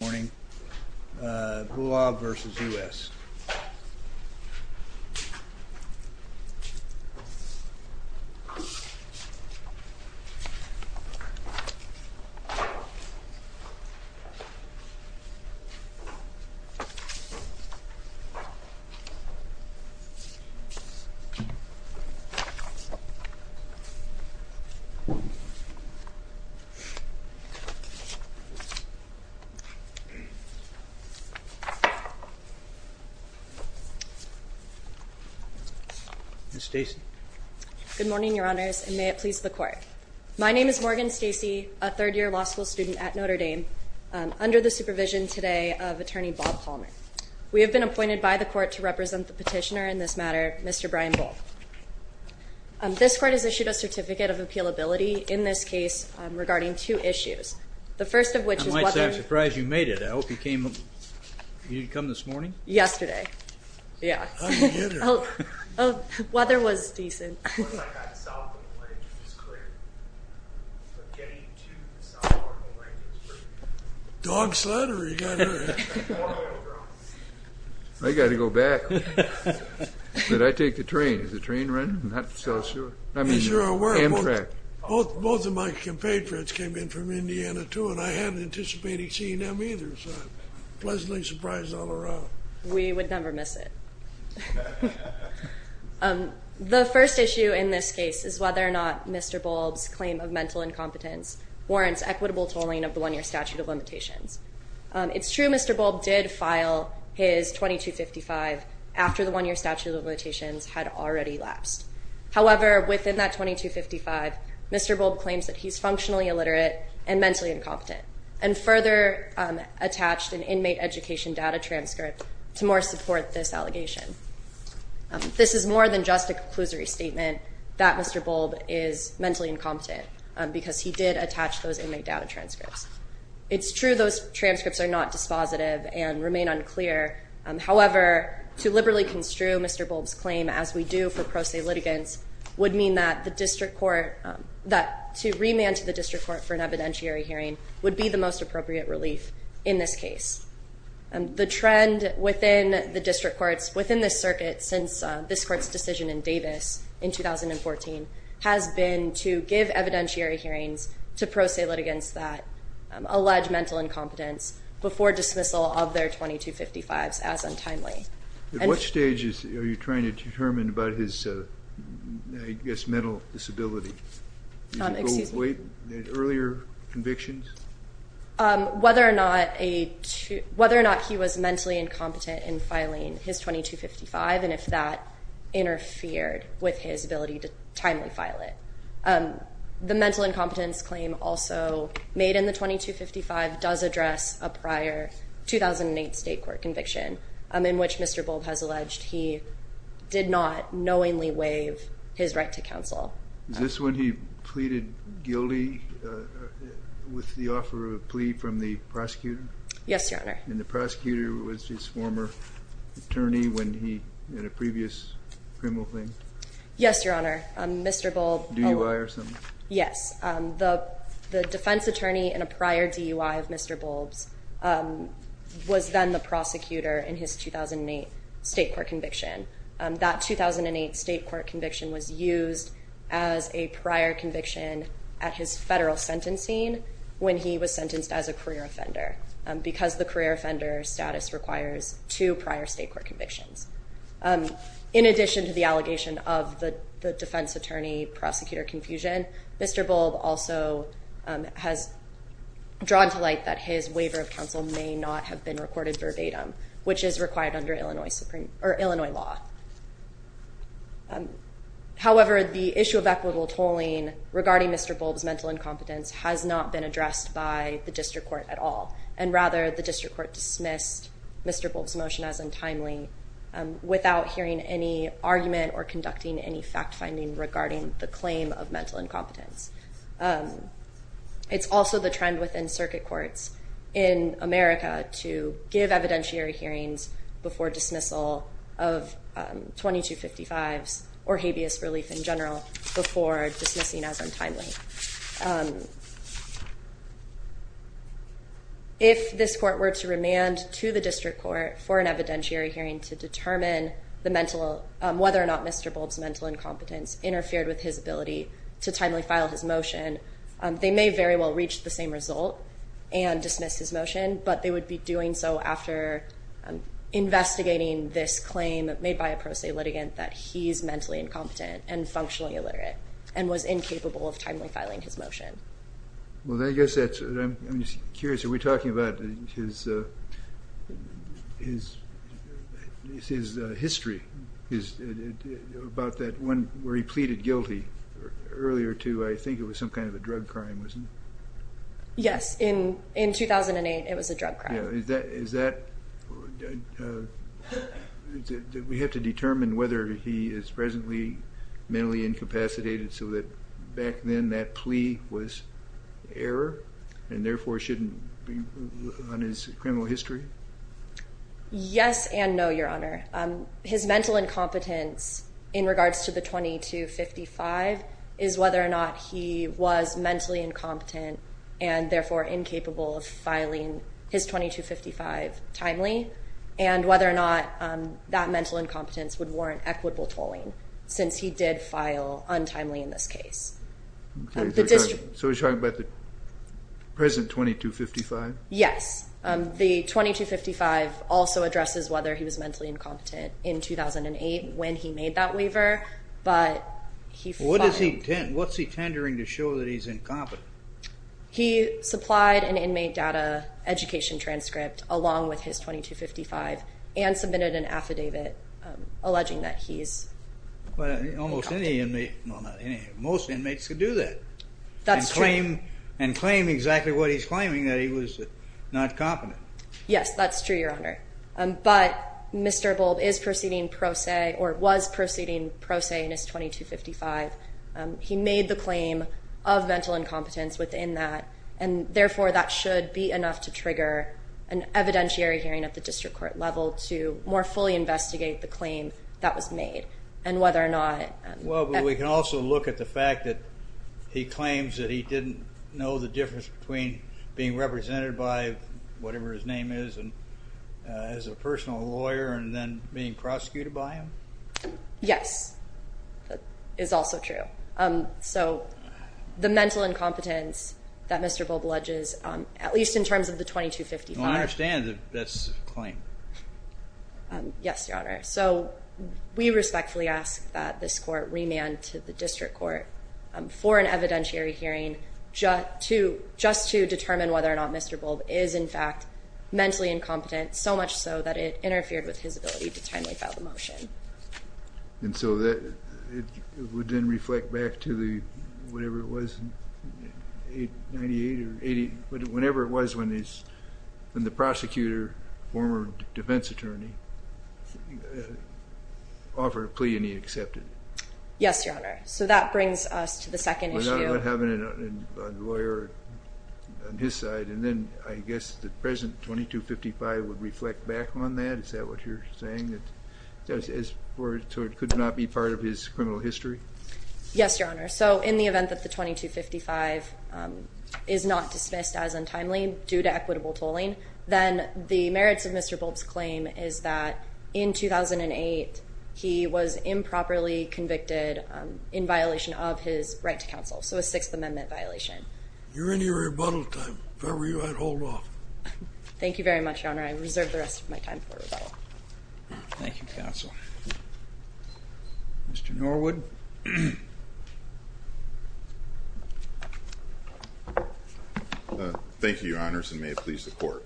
Good morning, Boulb v. United States Good morning, Your Honors, and may it please the Court. My name is Morgan Stacey, a third-year law school student at Notre Dame, under the supervision today of Attorney Bob Palmer. We have been appointed by the Court to represent the petitioner in this matter, Mr. Brian Boulb. This Court has issued a Certificate of Appealability in this case regarding two issues. I might say I'm surprised you made it. I hope you came... You didn't come this morning? Yesterday. Yeah. How'd you get here? Oh, weather was decent. Once I got south of the lake, it was clear. But getting to the south part of the lake was tricky. Dog sled or you got to... I got to go back. But I take the train. Is the train running? Is the train running? I'm not so sure. I mean, Amtrak. Is your... Both of my compatriots came in from Indiana. I got to go back. I got to go back to Indiana, too. And I hadn't anticipated seeing them either. So I'm pleasantly surprised all around. We would never miss it. The first issue in this case is whether or not Mr. Boulb's claim of mental incompetence warrants equitable tolling of the one-year statute of limitations. It's true Mr. Boulb did file his 2255 after the one-year statute of limitations had already lapsed. However, within that 2255, Mr. Boulb claims that he's functionally illiterate and mentally incompetent and further attached an inmate education data transcript to more support this allegation. This is more than just a conclusory statement that Mr. Boulb is mentally incompetent because he did attach those inmate data transcripts. It's true those transcripts are not dispositive and remain unclear. However, to liberally construe Mr. Boulb's claim as we do for pro se litigants would mean that to remand to the district court for an evidentiary hearing would be the most appropriate relief in this case. The trend within the district courts within this circuit since this court's decision in Davis in 2014 has been to give evidentiary hearings to pro se litigants that allege mental incompetence before dismissal of their 2255s as untimely. At what stage are you trying to determine about his, I guess, mental disability? Excuse me. Earlier convictions? Whether or not he was mentally incompetent in filing his 2255 and if that interfered with his ability to timely file it. The mental incompetence claim also made in the 2255 does address a prior 2008 state court conviction in which Mr. Boulb has alleged he did not knowingly waive his right to counsel. Is this when he pleaded guilty with the offer of a plea from the prosecutor? Yes, your honor. And the prosecutor was his former attorney when he had a previous criminal claim? Yes, your honor. Mr. Boulb. DUI or something? Yes. The defense attorney in a prior DUI of Mr. Boulb's was then the prosecutor in his 2008 state court conviction. That 2008 state court conviction was used as a prior conviction at his federal sentencing when he was sentenced as a career offender because the career offender status requires two prior state court convictions. In addition to the allegation of the defense attorney prosecutor confusion, Mr. Boulb also has drawn to light that his waiver of counsel may not have been recorded verbatim, which is required under Illinois law. However, the issue of equitable tolling regarding Mr. Boulb's mental incompetence has not been addressed by the district court at all and rather the district court dismissed Mr. Boulb's as untimely without hearing any argument or conducting any fact finding regarding the claim of mental incompetence. It's also the trend within circuit courts in America to give evidentiary hearings before dismissal of 2255s or habeas relief in general before dismissing as untimely. If this court were to remand to the district court for an evidentiary hearing to determine the mental, whether or not Mr. Boulb's mental incompetence interfered with his ability to timely file his motion, they may very well reach the same result and dismiss his motion, but they would be doing so after investigating this claim made by a pro se litigant that he's mentally incompetent and functionally illiterate and was incapable of timely filing his motion. I'm curious, are we talking about his history about that one where he pleaded guilty earlier to I think it was some kind of a drug crime, wasn't it? Yes, in 2008 it was a drug crime. Yeah, is that, we have to determine whether he is presently mentally incapacitated so that back then that plea was error and therefore shouldn't be on his criminal history? Yes, and no, your honor. His mental incompetence in regards to the 2255 is whether or not he was mentally incompetent and therefore incapable of filing his 2255 timely and whether or not that mental incompetence would warrant equitable tolling since he did file untimely in this case. Okay, so we're talking about the present 2255? Yes, the 2255 also addresses whether he was mentally incompetent in 2008 when he made that waiver, but he filed. What's he tendering to show that he's incompetent? He supplied an inmate data education transcript along with his 2255 and submitted an affidavit alleging that he's incompetent. Almost any inmate, well not any, most inmates would do that. That's true. And claim exactly what he's claiming, that he was not competent. Yes, that's true, your honor. But Mr. Bulb is proceeding pro se or was proceeding pro se in his 2255. He made the claim of mental incompetence within that and therefore that should be enough to trigger an evidentiary hearing at the district court level to more fully investigate the claim that was made and whether or not... Well, but we can also look at the fact that he claims that he didn't know the difference between being represented by whatever his name is as a personal lawyer and then being prosecuted by him? Yes, that is also true. So the mental incompetence that Mr. Bulb alleges, at least in terms of the 2255... Well, I understand that that's a claim. Yes, your honor. So we respectfully ask that this court remand to the district court for an evidentiary hearing just to determine whether or not Mr. Bulb is in fact mentally incompetent, so much so that it interfered with his ability to timely file the motion. And so it would then reflect back to the, whatever it was, 98 or 80, whatever it was when the prosecutor, former defense attorney, offered a plea and he accepted it? Yes, your honor. So that brings us to the second issue. So we're not having a lawyer on his side, and then I guess the present 2255 would reflect back on that? Is that what you're saying? So it could not be part of his criminal history? Yes, your honor. So in the event that the 2255 is not dismissed as untimely due to equitable tolling, then the merits of Mr. Bulb's claim is that in 2008, he was improperly convicted in violation of his right to counsel, so a Sixth Amendment violation. You're in your rebuttal time, if ever you'd like to hold off. Thank you very much, your honor. I reserve the rest of my time for rebuttal. Thank you, counsel. Mr. Norwood? Thank you, your honors, and may it please the court.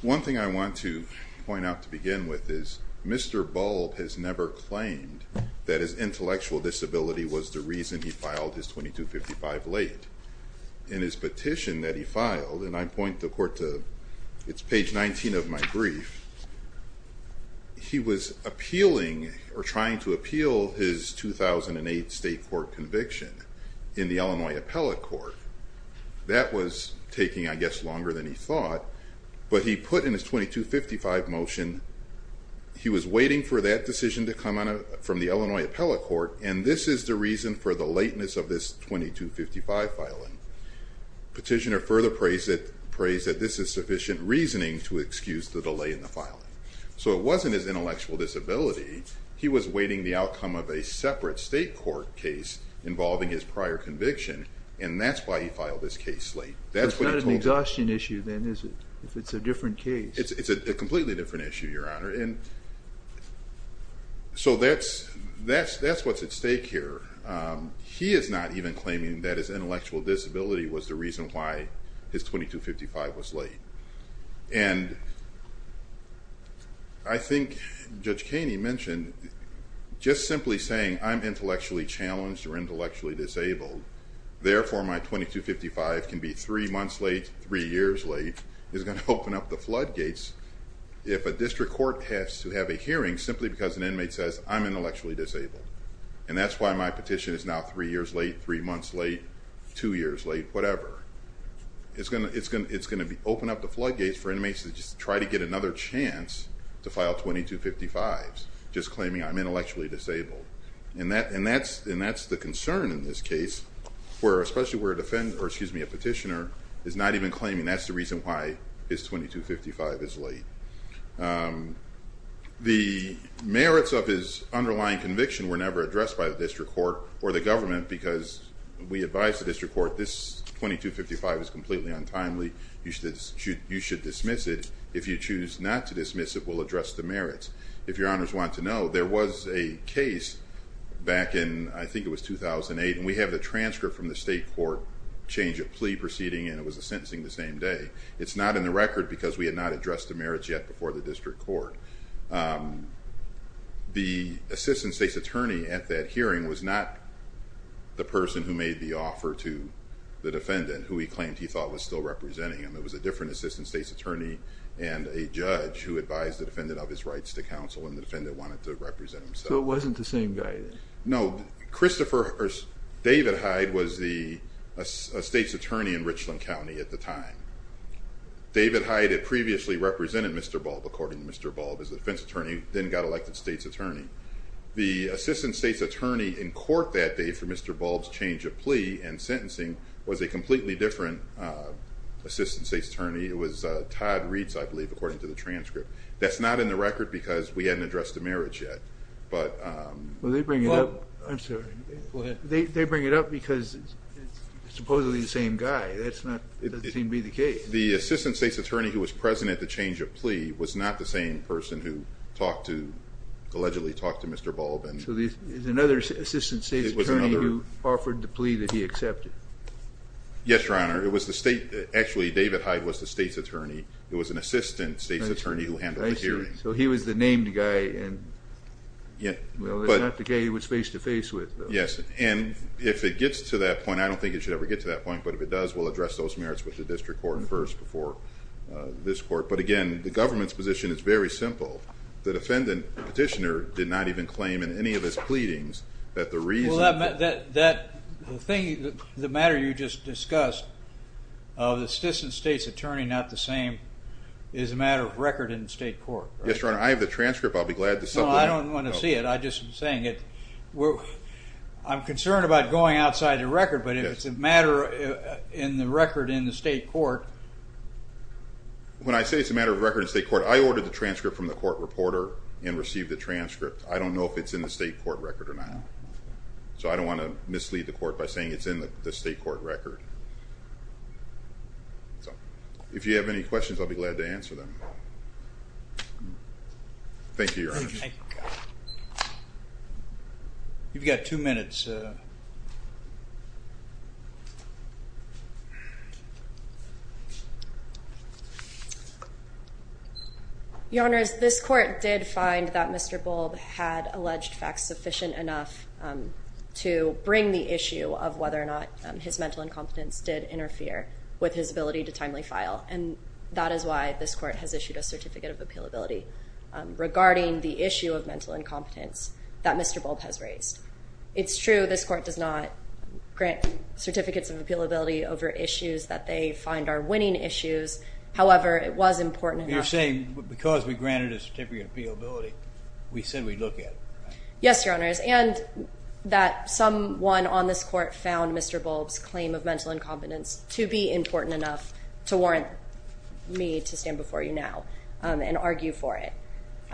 One thing I want to point out to begin with is Mr. Bulb has never claimed that his intellectual disability was the reason he filed his 2255 late. In his petition that he filed, and I point the court to, it's page 19 of my brief, he was appealing or trying to appeal his 2008 state court conviction in the Illinois Appellate Court. That was taking, I guess, longer than he thought, but he put in his 2255 motion, he was waiting for that decision to come from the Illinois Appellate Court, and this is the reason for the lateness of this 2255 filing. Petitioner further prays that this is sufficient reasoning to excuse the delay in the filing. So it wasn't his intellectual disability, he was waiting the outcome of a separate state court case involving his prior conviction, and that's why he filed this case late. That's what he told me. It's not an exhaustion issue, then, is it, if it's a different case? It's a completely different issue, Your Honor. So that's what's at stake here. He is not even claiming that his intellectual disability was the reason why his 2255 was late, and I think Judge Kaney mentioned, just simply saying, I'm intellectually challenged or intellectually disabled, therefore my 2255 can be three months late, three years late, is going to open up the floodgates if a district court has to have a hearing simply because an inmate says, I'm intellectually disabled. And that's why my petition is now three years late, three months late, two years late, whatever. It's going to open up the floodgates for inmates to just try to get another chance to file 2255s, just claiming I'm intellectually disabled. And that's the concern in this case, where especially where a petitioner is not even claiming that's the reason why his 2255 is late. The merits of his underlying conviction were never addressed by the district court or the government, because we advised the district court, this 2255 is completely untimely, you should dismiss it. If you choose not to dismiss it, we'll address the merits. If Your Honors want to know, there was a case back in, I think it was 2008, and we have a transcript from the state court, change of plea proceeding, and it was a sentencing the same day. It's not in the record because we had not addressed the merits yet before the district court. The assistant state's attorney at that hearing was not the person who made the offer to the defendant, who he claimed he thought was still representing him. It was a different assistant state's attorney and a judge who advised the defendant of his rights to counsel, and the defendant wanted to represent himself. So it wasn't the same guy then? No, Christopher David Hyde was the state's attorney in Richland County at the time. David Hyde had previously represented Mr. Bulb, according to Mr. Bulb, as the defense attorney, then got elected state's attorney. The assistant state's attorney in court that day for Mr. Bulb's change of plea and sentencing was a completely different assistant state's attorney. It was Todd Reitz, I believe, according to the transcript. That's not in the record because we hadn't addressed the merits yet, but... Well, they bring it up. I'm sorry. Go ahead. They bring it up because it's supposedly the same guy. That doesn't seem to be the case. The assistant state's attorney who was present at the change of plea was not the same person who allegedly talked to Mr. Bulb. So there's another assistant state's attorney who offered the plea that he accepted? Yes, Your Honor. It was the state... Actually, David Hyde was the state's attorney. It was an assistant state's attorney who handled the hearing. So he was the named guy. Well, it's not the guy he was face-to-face with, though. Yes, and if it gets to that point, I don't think it should ever get to that point, but if it does, we'll address those merits with the district court first before this court. But again, the government's position is very simple. The defendant petitioner did not even claim in any of his pleadings that the reason... That thing, the matter you just discussed of the assistant state's attorney not the same is a matter of record in the state court, right? Yes, Your Honor. I have the transcript. I'll be glad to submit it. No, I don't want to see it. I'm just saying it. I'm concerned about going outside the record, but if it's a matter in the record in the state court... When I say it's a matter of record in the state court, I ordered the transcript from the court reporter and received the transcript. I don't know if it's in the state court record or not. So I don't want to mislead the court by saying it's in the state court record. So if you have any questions, I'll be glad to answer them. Thank you, Your Honor. Thank you. You've got two minutes. Your Honor, this court did find that Mr. Bulb had alleged facts sufficient enough to bring the issue of whether or not his mental incompetence did interfere with his ability to timely file. And that is why this court has issued a Certificate of Appealability regarding the issue of mental incompetence that Mr. Bulb has raised. It's true this court does not grant Certificates of Appealability over issues that they find are winning issues. However, it was important enough... You're saying because we granted a Certificate of Appealability, we said we'd look at it, right? Yes, Your Honors. And that someone on this court found Mr. Bulb's claim of mental incompetence to be important enough to warrant me to stand before you now and argue for it.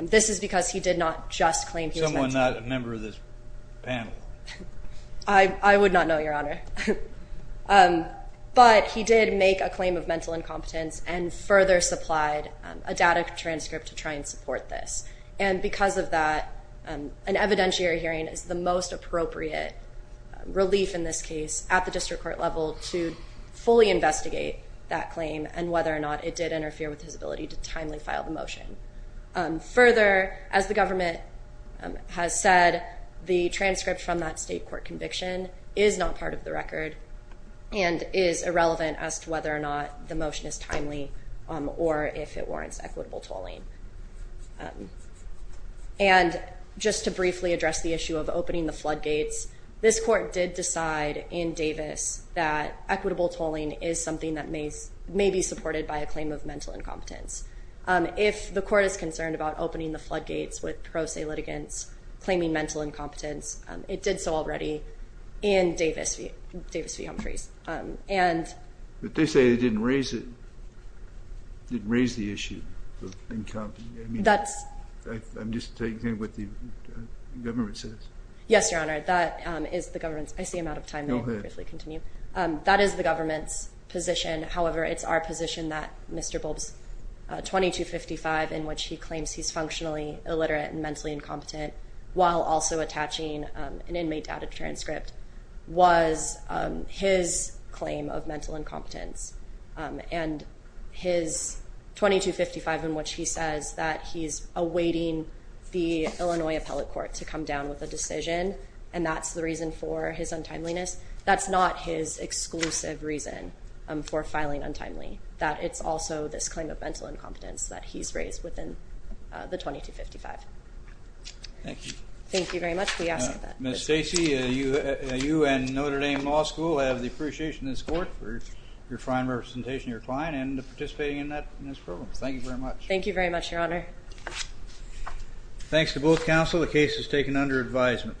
This is because he did not just claim he was mentally... Someone not a member of this panel. I would not know, Your Honor. But he did make a claim of mental incompetence and further supplied a data transcript to try and support this. And because of that, an evidentiary hearing is the most appropriate relief in this case at the district court level to fully investigate that claim and whether or not it did interfere with his ability to timely file the motion. Further, as the government has said, the transcript from that state court conviction is not part of the record and is irrelevant as to whether or not the motion is timely or if it warrants equitable tolling. And just to briefly address the issue of opening the floodgates, this court did decide in Davis that equitable tolling is something that may be supported by a claim of mental incompetence. If the court is concerned about opening the floodgates with pro se litigants claiming mental incompetence, it did so already in Davis V. Humphreys. But they say they didn't raise the issue of incompetence. I'm just taking what the government says. Yes, Your Honor. That is the government's position. However, it's our position that Mr. Bulbs 2255, in which he claims he's functionally illiterate and mentally incompetent while also attaching an inmate data transcript, was his claim of mental incompetence. And his 2255, in which he says that he's awaiting the Illinois Appellate Court to come down with a decision and that's the reason for his untimeliness, that's not his exclusive reason for filing untimely. That it's also this claim of mental incompetence that he's raised within the 2255. Thank you. Thank you very much. We ask that. Ms. Stacey, you and Notre Dame Law School have the appreciation in this court for your fine representation of your client and participating in this program. Thank you very much. Thank you very much, Your Honor. Thanks to both counsel. The case is taken under advisement.